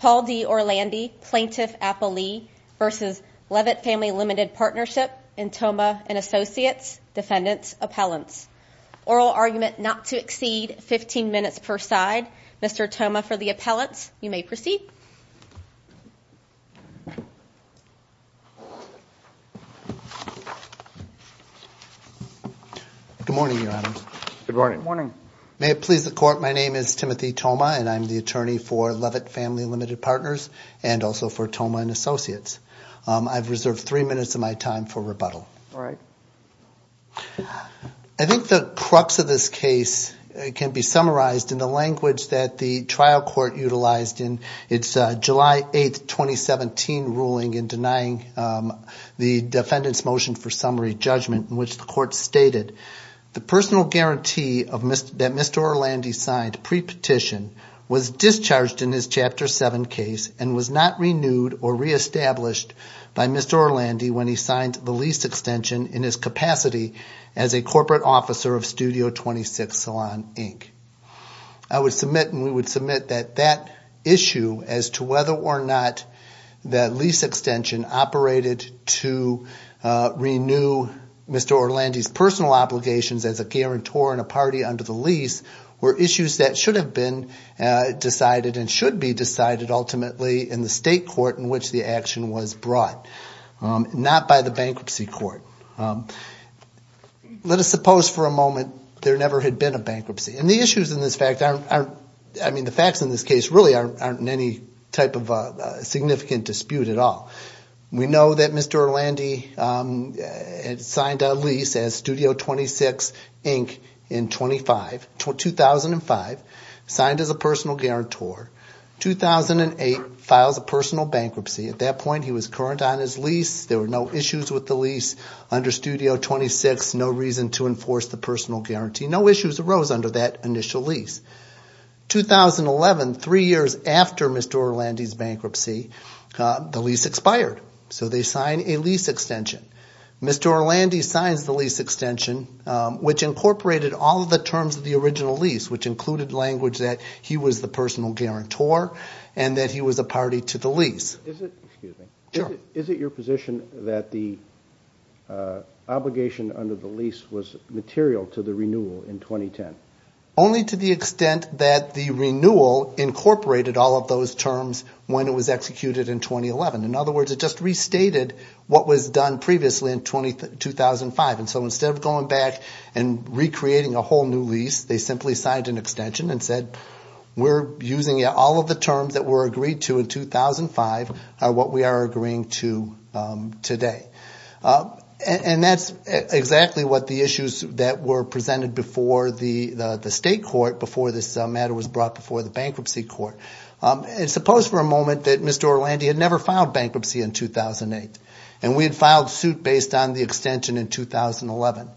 Paul D Orlandi Plaintiff Appellee vs. Leavitt Family Limited Partnership in Tomah & Associates Defendants Appellants Oral Argument Not to Exceed 15 Minutes per Side Mr. Tomah for the Appellants you may proceed. Good morning your honor. Good morning. May it please the court my name is Timothy Tomah and I'm the attorney for Leavitt Family Limited Partners and also for Tomah & Associates. I've reserved three minutes of my time for rebuttal. All right. I think the crux of this case can be summarized in the language that the trial court utilized in its July 8th 2017 ruling in denying the defendant's motion for summary judgment in which the court stated the personal guarantee that Mr. Orlandi signed pre-petition was discharged in his chapter 7 case and was not renewed or reestablished by Mr. Orlandi when he signed the lease extension. I would submit and we would submit that that issue as to whether or not that lease extension operated to renew Mr. Orlandi's personal obligations as a guarantor in a party under the lease were issues that should have been decided and should be decided ultimately in the state court in which the action was brought not by the bankruptcy court. Let us suppose for a moment there never had been a bankruptcy and the issues in this fact aren't I mean the facts in this case really aren't in any type of significant dispute at all. We know that Mr. Orlandi signed a lease as Studio 26 Inc. in 2005, signed as a personal guarantor. 2008, files a personal bankruptcy. At that point he was current on his lease. There were no issues with the lease under Studio 26, no reason to enforce the personal guarantee. No issues arose under that initial lease. 2011, three years after Mr. Orlandi's bankruptcy, the lease expired. So they signed a lease extension. Mr. Orlandi signs the lease extension which incorporated all of the terms of the original lease which included language that he was the personal guarantor and that he was a party to the lease. Is it your position that the obligation under the lease was material to the renewal in 2010? are what we are agreeing to today. And that's exactly what the issues that were presented before the state court before this matter was brought before the bankruptcy court. Suppose for a moment that Mr. Orlandi had never filed bankruptcy in 2008 and we had filed suit based on the extension in 2011.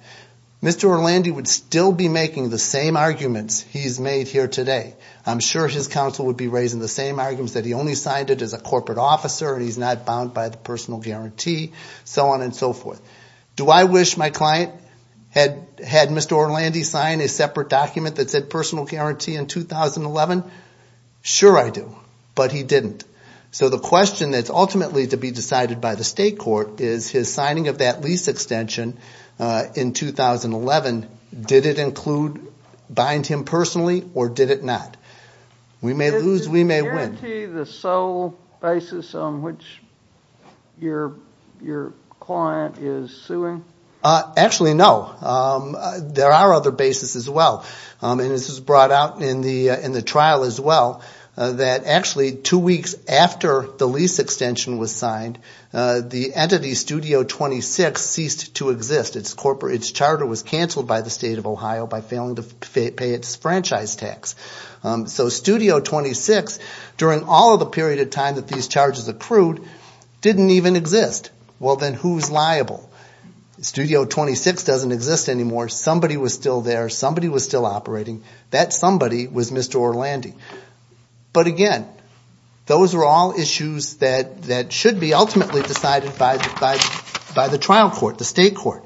Mr. Orlandi would still be making the same arguments he's made here today. I'm sure his counsel would be raising the same arguments that he only signed it as a corporate officer and he's not bound by the personal guarantee, so on and so forth. Do I wish my client had Mr. Orlandi sign a separate document that said personal guarantee in 2011? Sure I do, but he didn't. So the question that's ultimately to be decided by the state court is his signing of that lease extension in 2011, did it bind him personally or did it not? Does it guarantee the sole basis on which your client is suing? Actually, no. There are other bases as well. And this was brought out in the trial as well, that actually two weeks after the lease extension was signed, the entity Studio 26 ceased to exist. Its charter was canceled by the state of Ohio by failing to pay its franchise tax. So Studio 26, during all of the period of time that these charges accrued, didn't even exist. Well then who's liable? Studio 26 doesn't exist anymore. Somebody was still there. Somebody was still operating. That somebody was Mr. Orlandi. But again, those are all issues that should be ultimately decided by the trial court, the state court.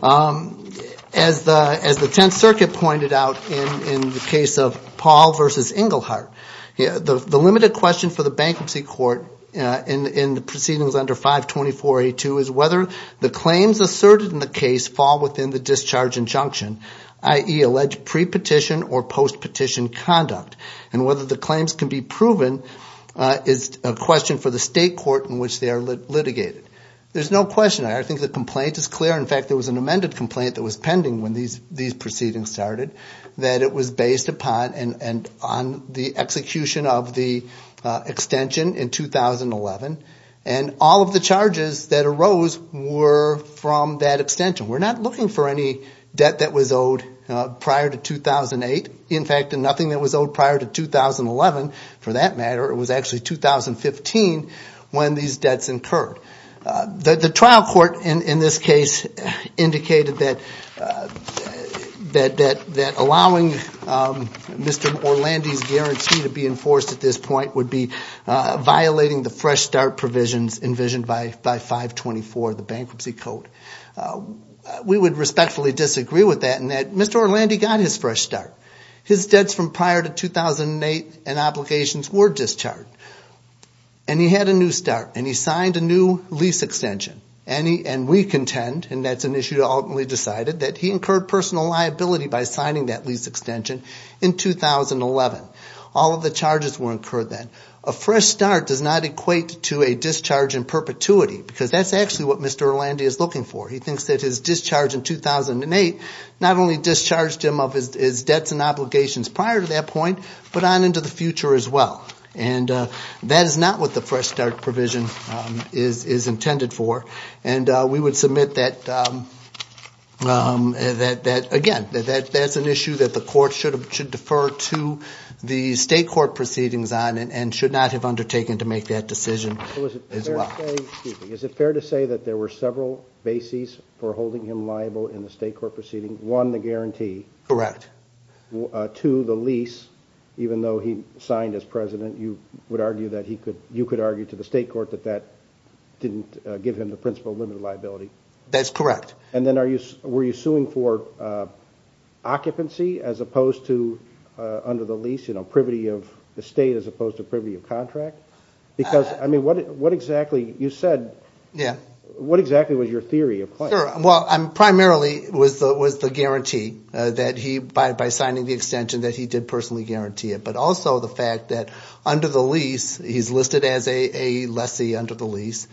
As the Tenth Circuit pointed out in the case of Paul v. Engelhardt, the limited question for the bankruptcy court in the proceedings under 524A2 is whether the claims asserted in the case fall within the discharge injunction, i.e. alleged pre-petition or post-petition conduct. And whether the claims can be proven is a question for the state court in which they are litigated. There's no question. I think the complaint is clear. In fact, there was an amended complaint that was pending when these proceedings started that it was based upon and on the execution of the extension in 2011. And all of the charges that arose were from that extension. We're not looking for any debt that was owed prior to 2008. In fact, nothing that was owed prior to 2011, for that matter, it was actually 2015 when these debts incurred. The trial court in this case indicated that allowing Mr. Orlandi's guarantee to be enforced at this point would be violating the fresh start provisions envisioned by 524, the bankruptcy code. We would respectfully disagree with that in that Mr. Orlandi got his fresh start. His debts from prior to 2008 and obligations were discharged. And he had a new start. And he signed a new lease extension. And we contend, and that's an issue that ultimately decided, that he incurred personal liability by signing that lease extension in 2011. All of the charges were incurred then. A fresh start does not equate to a discharge in perpetuity because that's actually what Mr. Orlandi is looking for. He thinks that his discharge in 2008 not only discharged him of his debts and obligations prior to that point, but on into the future as well. And that is not what the fresh start provision is intended for. And we would submit that, again, that's an issue that the court should defer to the state court proceedings on and should not have undertaken to make that decision as well. Is it fair to say that there were several bases for holding him liable in the state court proceedings? One, the guarantee. Correct. Two, the lease, even though he signed as president, you would argue that he could, you could argue to the state court that that didn't give him the principle of limited liability. That's correct. And then were you suing for occupancy as opposed to under the lease, you know, privity of the state as opposed to privity of contract? Because, I mean, what exactly, you said, what exactly was your theory of claim? Well, primarily was the guarantee that he, by signing the extension, that he did personally guarantee it. But also the fact that under the lease, he's listed as a lessee under the lease.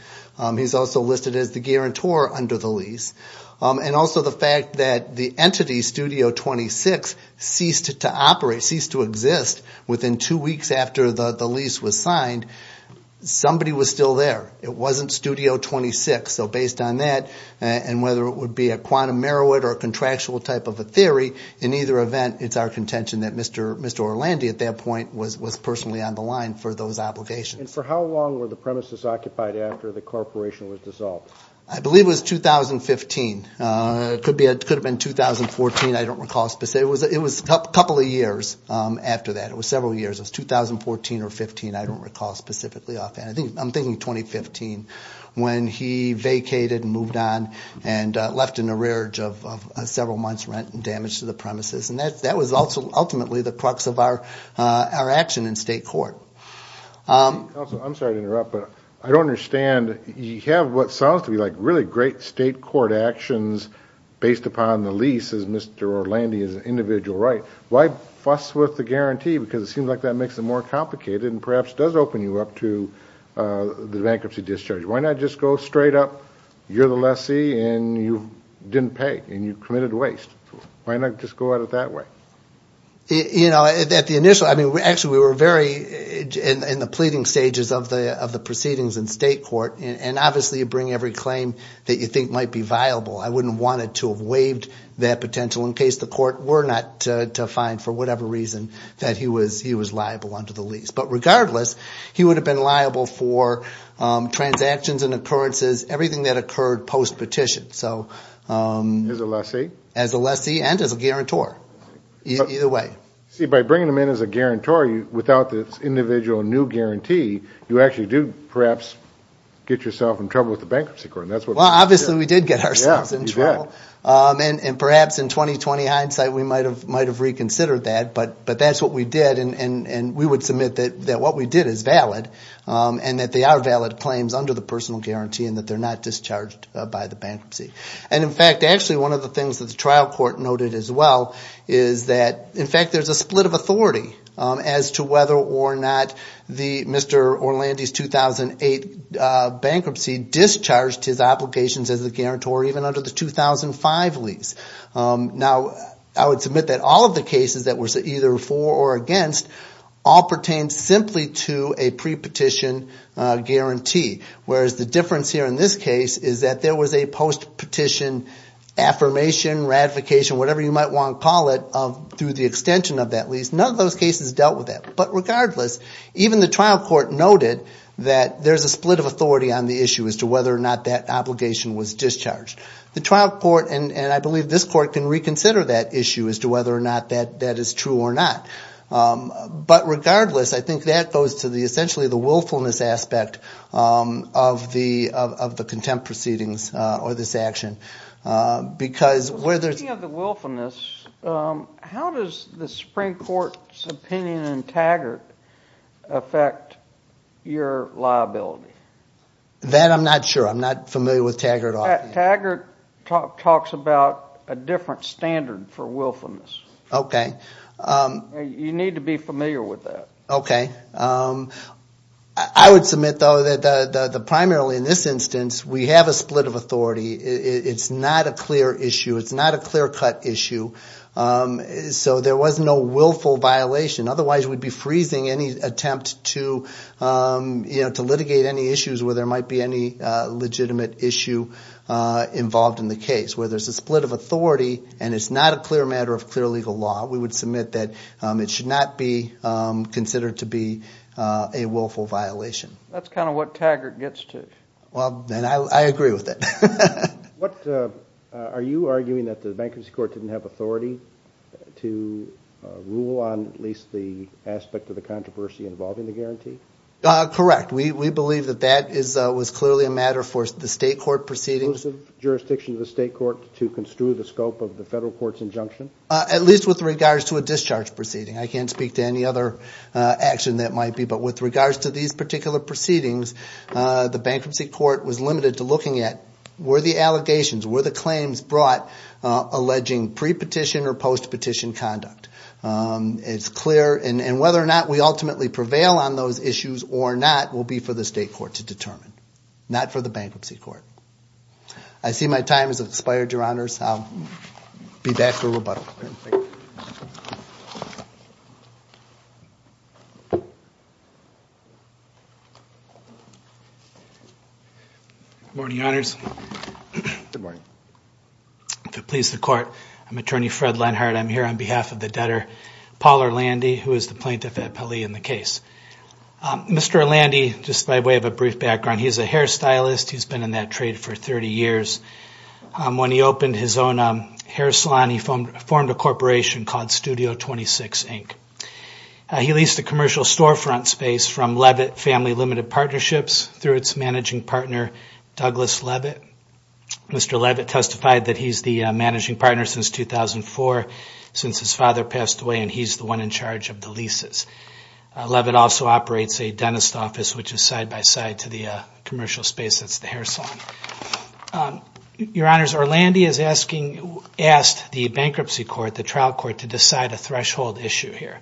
He's also listed as the guarantor under the lease. And also the fact that the entity, Studio 26, ceased to operate, ceased to exist within two weeks after the lease was signed. Somebody was still there. It wasn't Studio 26. So based on that and whether it would be a quantum merit or a contractual type of a theory, in either event, it's our contention that Mr. Orlandi at that point was personally on the line for those obligations. And for how long were the premises occupied after the corporation was dissolved? I'm sorry to interrupt, but I don't understand. You have what sounds to me like really great state court actions based upon the lease as Mr. Orlandi's individual right. Why fuss with the guarantee? Because it seems like that makes it more complicated and perhaps does open you up to the bankruptcy discharge. Why not just go straight up? You're the lessee and you didn't pay and you committed waste. Why not just go at it that way? Actually, we were very in the pleading stages of the proceedings in state court. And obviously you bring every claim that you think might be viable. I wouldn't want it to have waived that potential in case the court were not to find, for whatever reason, that he was liable under the lease. But regardless, he would have been liable for transactions and occurrences, everything that occurred post-petition. As a lessee and as a guarantor, either way. See, by bringing them in as a guarantor without this individual new guarantee, you actually do perhaps get yourself in trouble with the bankruptcy court. Well, obviously we did get ourselves in trouble. And perhaps in 20-20 hindsight we might have reconsidered that. But that's what we did. And we would submit that what we did is valid and that they are valid claims under the personal guarantee and that they're not discharged by the bankruptcy. And in fact, actually one of the things that the trial court noted as well is that in fact there's a split of authority as to whether or not Mr. Orlandi's 2008 bankruptcy discharged his obligations as a guarantor even under the 2005 lease. Now, I would submit that all of the cases that were either for or against all pertain simply to a pre-petition guarantee. Whereas the difference here in this case is that there was a post-petition affirmation, ratification, whatever you might want to call it through the extension of that lease. None of those cases dealt with that. But regardless, even the trial court noted that there's a split of authority on the issue as to whether or not that obligation was discharged. The trial court, and I believe this court, can reconsider that issue as to whether or not that is true or not. But regardless, I think that goes to essentially the willfulness aspect of the contempt proceedings or this action. Speaking of the willfulness, how does the Supreme Court's opinion in Taggart affect your liability? That I'm not sure. I'm not familiar with Taggart. Taggart talks about a different standard for willfulness. You need to be familiar with that. Okay. I would submit, though, that primarily in this instance we have a split of authority. It's not a clear issue. It's not a clear-cut issue. So there was no willful violation. Otherwise, we'd be freezing any attempt to litigate any issues where there might be any legitimate issue involved in the case. Where there's a split of authority and it's not a clear matter of clear legal law, we would submit that it should not be considered to be a willful violation. That's kind of what Taggart gets to. I agree with that. Are you arguing that the bankruptcy court didn't have authority to rule on at least the aspect of the controversy involving the guarantee? Correct. We believe that that was clearly a matter for the state court proceedings. Inclusive jurisdiction of the state court to construe the scope of the federal court's injunction? At least with regards to a discharge proceeding. I can't speak to any other action that might be. But with regards to these particular proceedings, the bankruptcy court was limited to looking at were the allegations, were the claims brought alleging pre-petition or post-petition conduct. It's clear. And whether or not we ultimately prevail on those issues or not will be for the state court to determine. Not for the bankruptcy court. I see my time has expired, Your Honors. I'll be back for rebuttal. Good morning, Your Honors. Good morning. If it pleases the court, I'm Attorney Fred Lenhart. I'm here on behalf of the debtor, Paul Orlandi, who is the plaintiff at Pele in the case. Mr. Orlandi, just by way of a brief background, he's a hairstylist. He's been in that trade for 30 years. When he opened his own hair salon, he formed a corporation called Studio 26, Inc. He leased a commercial storefront space from Leavitt Family Limited Partnerships through its managing partner, Douglas Leavitt. Mr. Leavitt testified that he's the managing partner since 2004, since his father passed away, and he's the one in charge of the leases. Leavitt also operates a dentist office, which is side-by-side to the commercial space that's the hair salon. Your Honors, Orlandi has asked the bankruptcy court, the trial court, to decide a threshold issue here.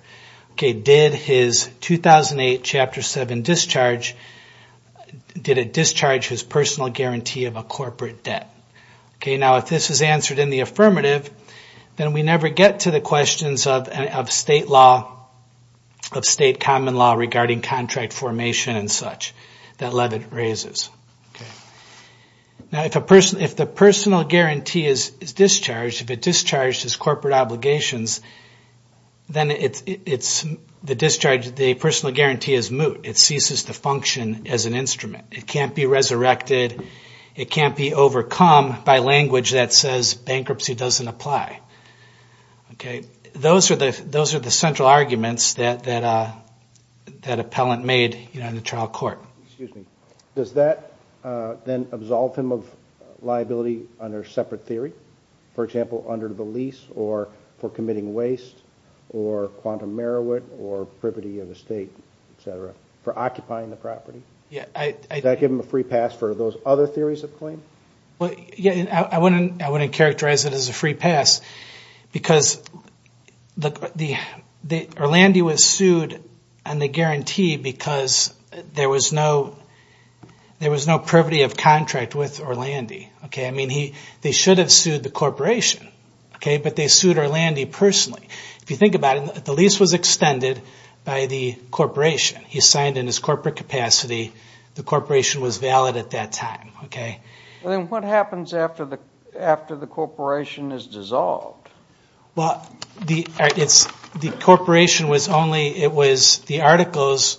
Did his 2008 Chapter 7 discharge, did it discharge his personal guarantee of a corporate debt? Now, if this is answered in the affirmative, then we never get to the questions of state law, of state common law regarding contract formation and such that Leavitt raises. Now, if the personal guarantee is discharged, if it discharged his corporate obligations, then the discharge, the personal guarantee is moot. It ceases to function as an instrument. It can't be resurrected. It can't be overcome by language that says bankruptcy doesn't apply. Those are the central arguments that appellant made in the trial court. Does that then absolve him of liability under a separate theory? For example, under the lease, or for committing waste, or quantum meriwit, or privity of estate, etc., for occupying the property? Does that give him a free pass for those other theories of claim? I wouldn't characterize it as a free pass because Orlandi was sued on the guarantee because there was no privity of contract with Orlandi. They should have sued the corporation, but they sued Orlandi personally. If you think about it, the lease was extended by the corporation. He signed in his corporate capacity. The corporation was valid at that time. Then what happens after the corporation is dissolved? The corporation was only, it was, the articles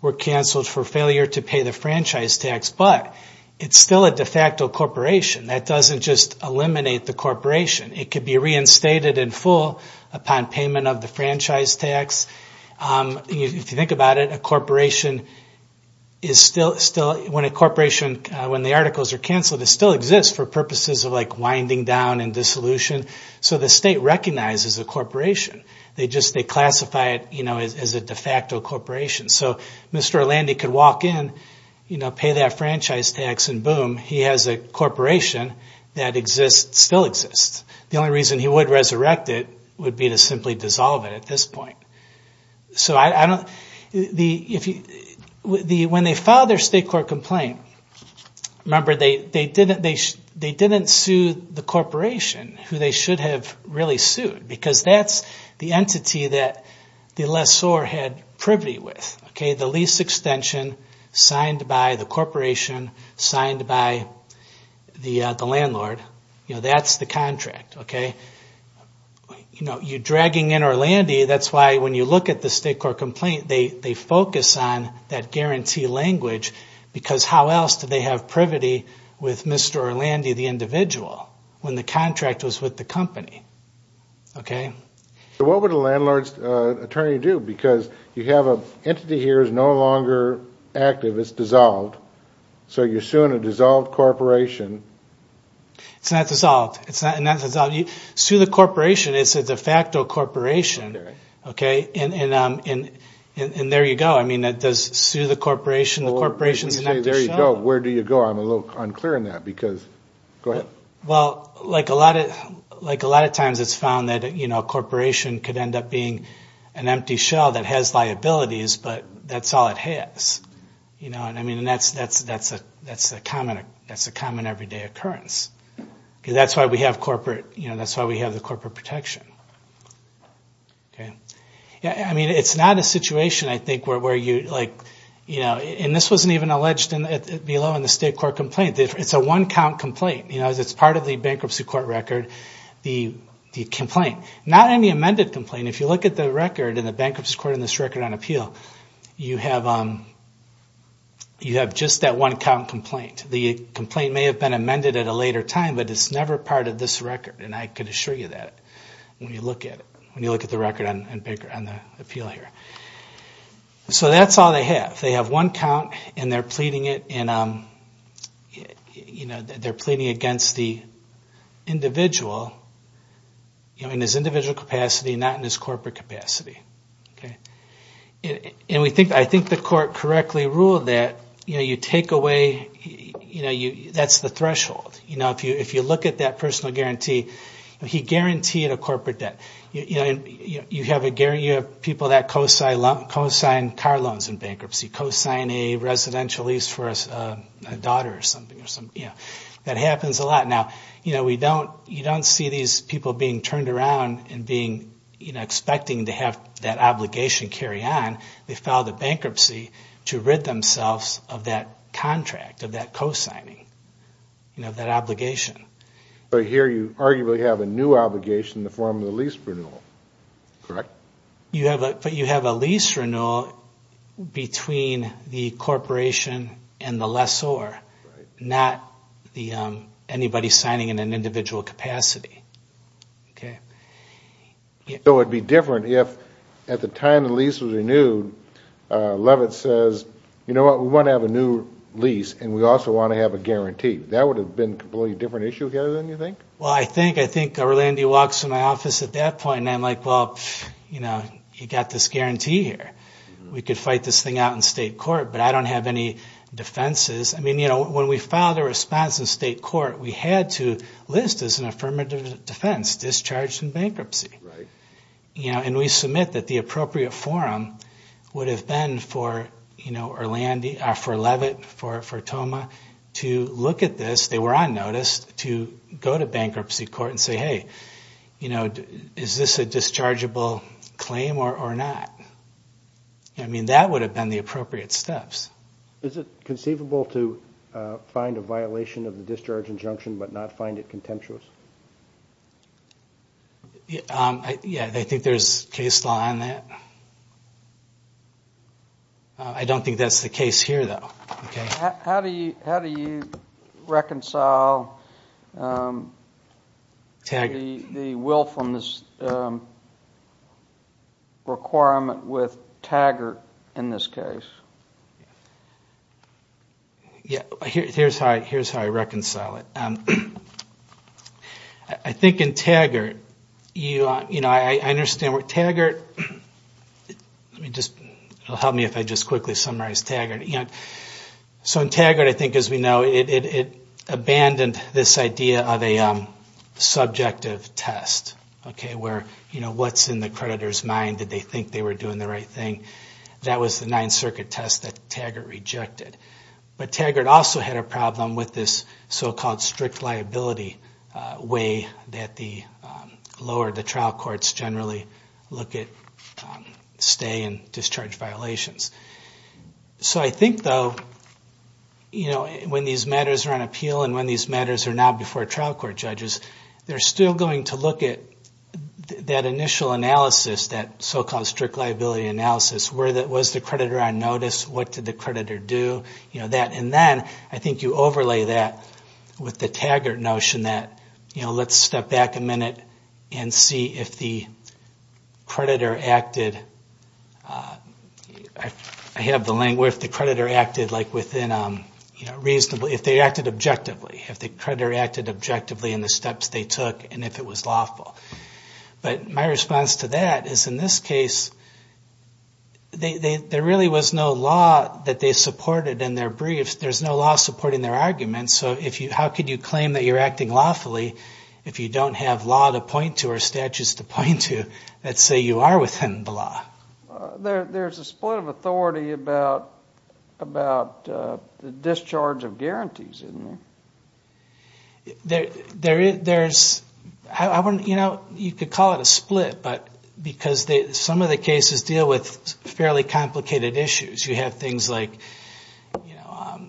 were canceled for failure to pay the franchise tax, but it's still a de facto corporation. That doesn't just eliminate the corporation. It could be reinstated in full upon payment of the franchise tax. If you think about it, a corporation is still, when a corporation, when the articles are canceled, it still exists for purposes of winding down and dissolution. So the state recognizes the corporation. They just classify it as a de facto corporation. So Mr. Orlandi could walk in, pay that franchise tax, and boom, he has a corporation that exists, still exists. The only reason he would resurrect it would be to simply dissolve it at this point. When they filed their state court complaint, remember they didn't sue the corporation who they should have really sued. Because that's the entity that the lessor had privity with. The lease extension signed by the corporation, signed by the landlord. That's the contract. You're dragging in Orlandi. That's why when you look at the state court complaint, they focus on that guarantee language. Because how else do they have privity with Mr. Orlandi, the individual, when the contract was with the company? So what would a landlord's attorney do? Because you have an entity here that's no longer active. It's dissolved. So you're suing a dissolved corporation. It's not dissolved. Sue the corporation. It's a de facto corporation. And there you go. Does sue the corporation? Where do you go? I'm a little unclear on that. A lot of times it's found that a corporation could end up being an empty shell that has liabilities, but that's all it has. That's a common everyday occurrence. That's why we have the corporate protection. It's not a situation, I think, where you... And this wasn't even alleged below in the state court complaint. It's a one-count complaint. It's part of the bankruptcy court record, the complaint. Not in the amended complaint. If you look at the record in the bankruptcy court on this record on appeal, you have just that one-count complaint. The complaint may have been amended at a later time, but it's never part of this record. And I can assure you that when you look at it, when you look at the record on the appeal here. So that's all they have. They have one count, and they're pleading against the individual. In his individual capacity, not in his corporate capacity. I think the court correctly ruled that you take away... that's the threshold. If you look at that personal guarantee, he guaranteed a corporate debt. You have people that co-sign car loans in bankruptcy, co-sign a residential lease for a daughter or something. That happens a lot. Now, you don't see these people being turned around and expecting to have that obligation carry on. They filed a bankruptcy to rid themselves of that contract, of that co-signing, of that obligation. But here you arguably have a new obligation in the form of the lease renewal, correct? But you have a lease renewal between the corporation and the lessor. Not anybody signing in an individual capacity. So it would be different if at the time the lease was renewed, Levitt says, you know what? We want to have a new lease, and we also want to have a guarantee. That would have been a completely different issue, Gary, than you think? Well, I think Erlandy walks in my office at that point, and I'm like, well, you know, you got this guarantee here. We could fight this thing out in state court, but I don't have any defenses. I mean, when we filed a response in state court, we had to list as an affirmative defense, discharged in bankruptcy. And we submit that the appropriate forum would have been for Levitt, for Toma, to look at this. They were on notice to go to bankruptcy court and say, hey, is this a dischargeable claim or not? I mean, that would have been the appropriate steps. Is it conceivable to find a violation of the discharge injunction but not find it contemptuous? Yeah, I think there's case law on that. I don't think that's the case here, though. How do you reconcile the willfulness requirement with Taggart in this case? Yeah, here's how I reconcile it. I think in Taggart, you know, I understand where Taggart... It'll help me if I just quickly summarize Taggart. So in Taggart, I think, as we know, it abandoned this idea of a subjective test, okay, where, you know, what's in the creditor's mind? Why did they think they were doing the right thing? That was the Ninth Circuit test that Taggart rejected. But Taggart also had a problem with this so-called strict liability way that the lower, the trial courts generally look at stay and discharge violations. So I think, though, you know, when these matters are on appeal and when these matters are now before trial court judges, they're still going to look at that initial analysis, that sort of, you know, so-called strict liability analysis, was the creditor on notice, what did the creditor do, you know, that. And then I think you overlay that with the Taggart notion that, you know, let's step back a minute and see if the creditor acted... I have the language, if the creditor acted, like, within, you know, reasonably, if they acted objectively, if the creditor acted objectively in the steps they took and if it was lawful. But my response to that is, in this case, there really was no law that they supported in their briefs. There's no law supporting their arguments. So how could you claim that you're acting lawfully if you don't have law to point to or statutes to point to that say you are within the law? There's a split of authority about the discharge of guarantees, isn't there? There, there, there's...I wouldn't, you know, you could call it a split, but because some of the cases deal with fairly complicated issues. You have things like, you know,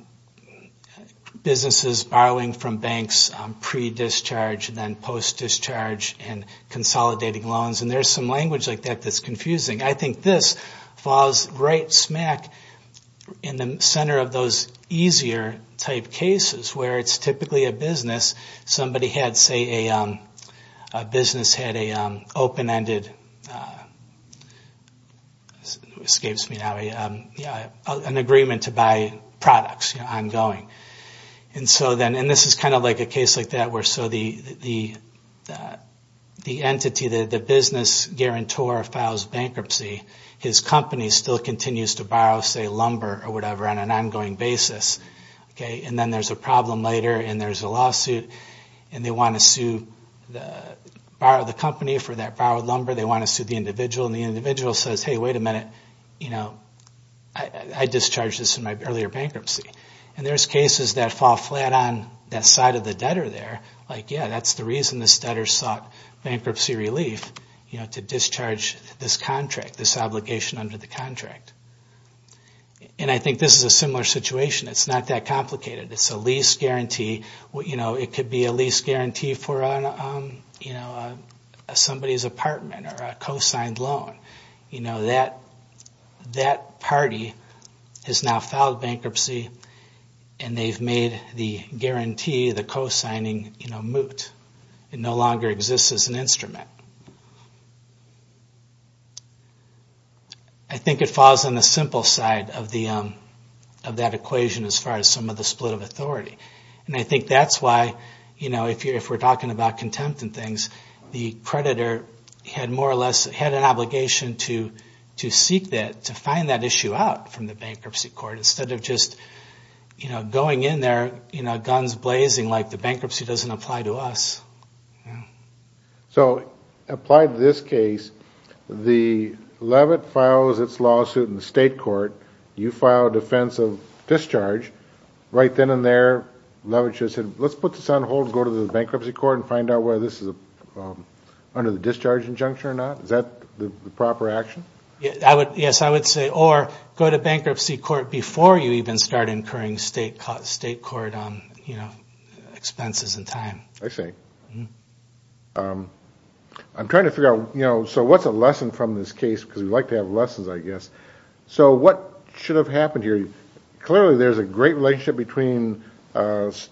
businesses borrowing from banks, pre-discharge, then post-discharge, and consolidating loans, and there's some language like that that's confusing. I think this falls right smack in the center of those easier type cases, where it's typically a business, somebody had, say, a business had a open-ended...escapes me now...an agreement to buy products, you know, ongoing. And so then, and this is kind of like a case like that, where so the entity, the business guarantor, files bankruptcy. His company still continues to borrow, say, lumber or whatever, on an ongoing basis. Okay, and then there's a problem later, and there's a lawsuit, and they want to sue the...borrow the company for that borrowed lumber. They want to sue the individual, and the individual says, hey, wait a minute, you know, I discharged this in my earlier bankruptcy. And there's cases that fall flat on that side of the debtor there, like, yeah, that's the reason this debtor sought bankruptcy relief, you know, to discharge this contract. And so then they have to take this obligation under the contract. And I think this is a similar situation. It's not that complicated. It's a lease guarantee, you know, it could be a lease guarantee for, you know, somebody's apartment or a co-signed loan. You know, that party has now filed bankruptcy, and they've made the guarantee, the co-signing, you know, moot. It no longer exists as an instrument. I think it falls on the simple side of that equation as far as some of the split of authority. And I think that's why, you know, if we're talking about contempt and things, the creditor had more or less had an obligation to seek that, to find that issue out from the bankruptcy court. Instead of just, you know, going in there, you know, guns blazing like the bankruptcy doesn't apply to us. Yeah. So, apply to this case, the levitt files its lawsuit in the state court, you file a defense of discharge, right then and there, levitt should have said, let's put this on hold and go to the bankruptcy court and find out whether this is under the discharge injunction or not. Is that the proper action? Yes, I would say, or go to bankruptcy court before you even start incurring state court, you know, expenses and time. I'm trying to figure out, you know, so what's a lesson from this case, because we like to have lessons, I guess. So, what should have happened here? Clearly, there's a great relationship between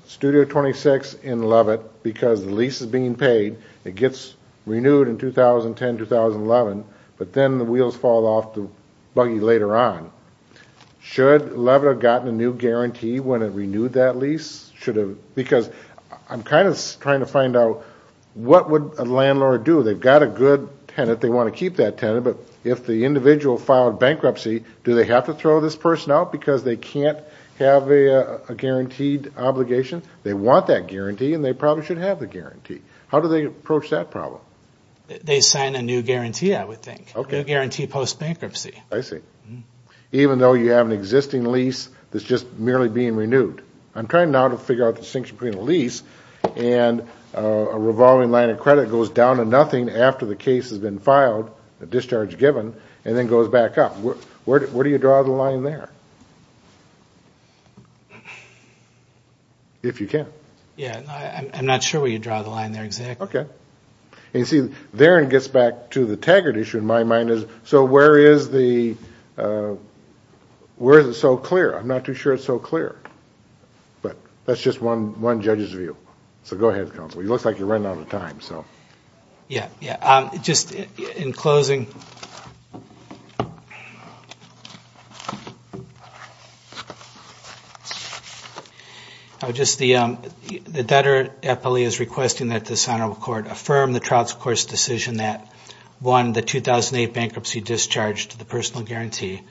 Studio 26 and levitt because the lease is being paid, it gets renewed in 2010, 2011, but then the wheels fall off the buggy later on. Should levitt have gotten a new guarantee when it renewed that lease? Because I'm kind of trying to find out what would a landlord do? They've got a good tenant, they want to keep that tenant, but if the individual filed bankruptcy, do they have to throw this person out because they can't have a guaranteed obligation? They want that guarantee and they probably should have the guarantee. How do they approach that problem? They sign a new guarantee, I would think, a new guarantee post-bankruptcy. Even though you have an existing lease that's just merely being renewed. I'm trying now to figure out the distinction between a lease and a revolving line of credit goes down to nothing after the case has been filed, a discharge given, and then goes back up. Where do you draw the line there? If you can. I'm not sure where you draw the line there exactly. Okay. So where is it so clear? I'm not too sure it's so clear, but that's just one judge's view. It looks like you're running out of time. The debtor appellee is requesting that this Honorable Court affirm the trial's court's decision that won the 2008 bankruptcy discharge to the personal guarantee,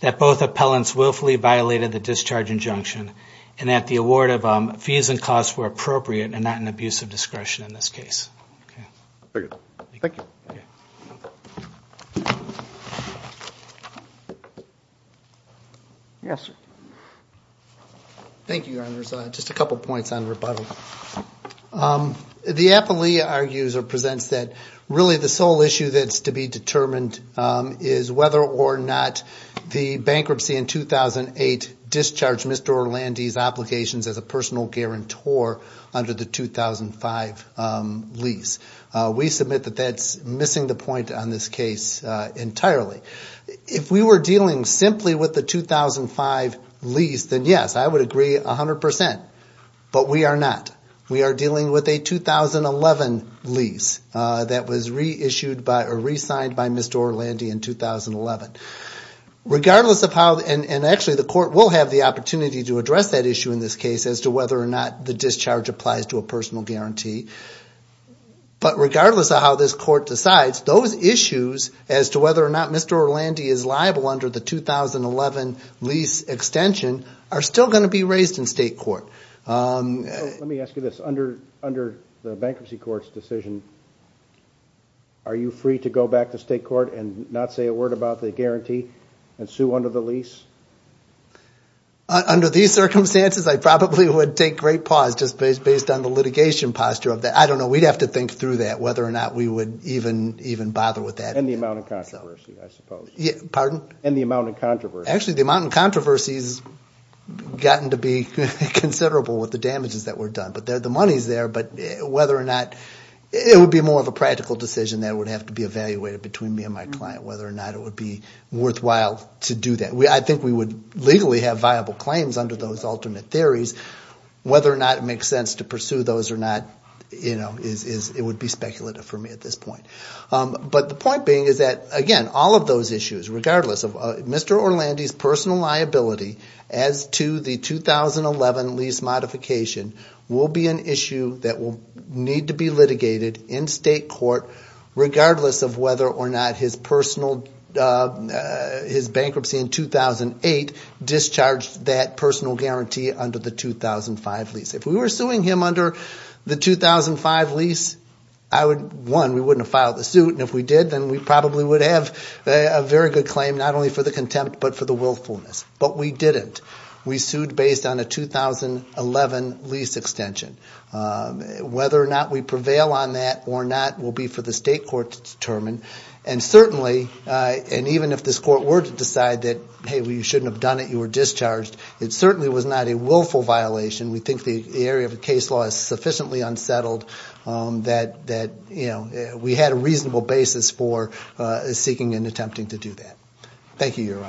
that both appellants willfully violated the discharge injunction, and that the award of fees and costs were appropriate and not an abuse of discretion in this case. Thank you. Yes, sir. Thank you, Your Honors. Just a couple points on rebuttal. The appellee argues or presents that really the sole issue that's to be determined is whether or not the bankruptcy in 2008 discharged Mr. Orlandi's applications as a personal guarantor under the 2005 lease. We submit that that's missing the point on this case entirely. If we were dealing simply with the 2005 lease, then yes, I would agree 100 percent, but we are not. We are dealing with a 2011 lease that was reissued by or re-signed by Mr. Orlandi in 2011. Regardless of how, and actually the court will have the opportunity to address that issue in this case as to whether or not the discharge applies to a personal guarantee. But regardless of how this court decides, those issues as to whether or not Mr. Orlandi is liable under the 2011 lease extension are still going to be raised in state court. Let me ask you this. Under the bankruptcy court's decision, are you free to go back to state court and not say a word about the guarantee and sue under the lease? Under these circumstances, I probably would take great pause, just based on the litigation posture of that. I don't know, we'd have to think through that, whether or not we would even bother with that. And the amount of controversy, I suppose. Actually, the amount of controversy has gotten to be considerable with the damages that were done. But the money is there, but whether or not, it would be more of a practical decision that would have to be evaluated between me and my client, whether or not it would be worthwhile to do that. I think we would legally have viable claims under those alternate theories. It would be speculative for me at this point. But the point being is that, again, all of those issues, regardless of Mr. Orlandi's personal liability as to the 2011 lease modification, will be an issue that will need to be litigated in state court, regardless of whether or not his bankruptcy in 2008 discharged that personal guarantee under the 2005 lease. If we were suing him under the 2005 lease, one, we wouldn't have filed the suit. And if we did, then we probably would have a very good claim, not only for the contempt, but for the willfulness. But we didn't. We sued based on a 2011 lease extension. Whether or not we prevail on that or not will be for the state court to determine. And certainly, and even if this court were to decide that, hey, you shouldn't have done it, you were discharged, it certainly was not a willful violation. We think the area of the case law is sufficiently unsettled that we had a reasonable basis for seeking and attempting to do that. Thank you, Your Honors.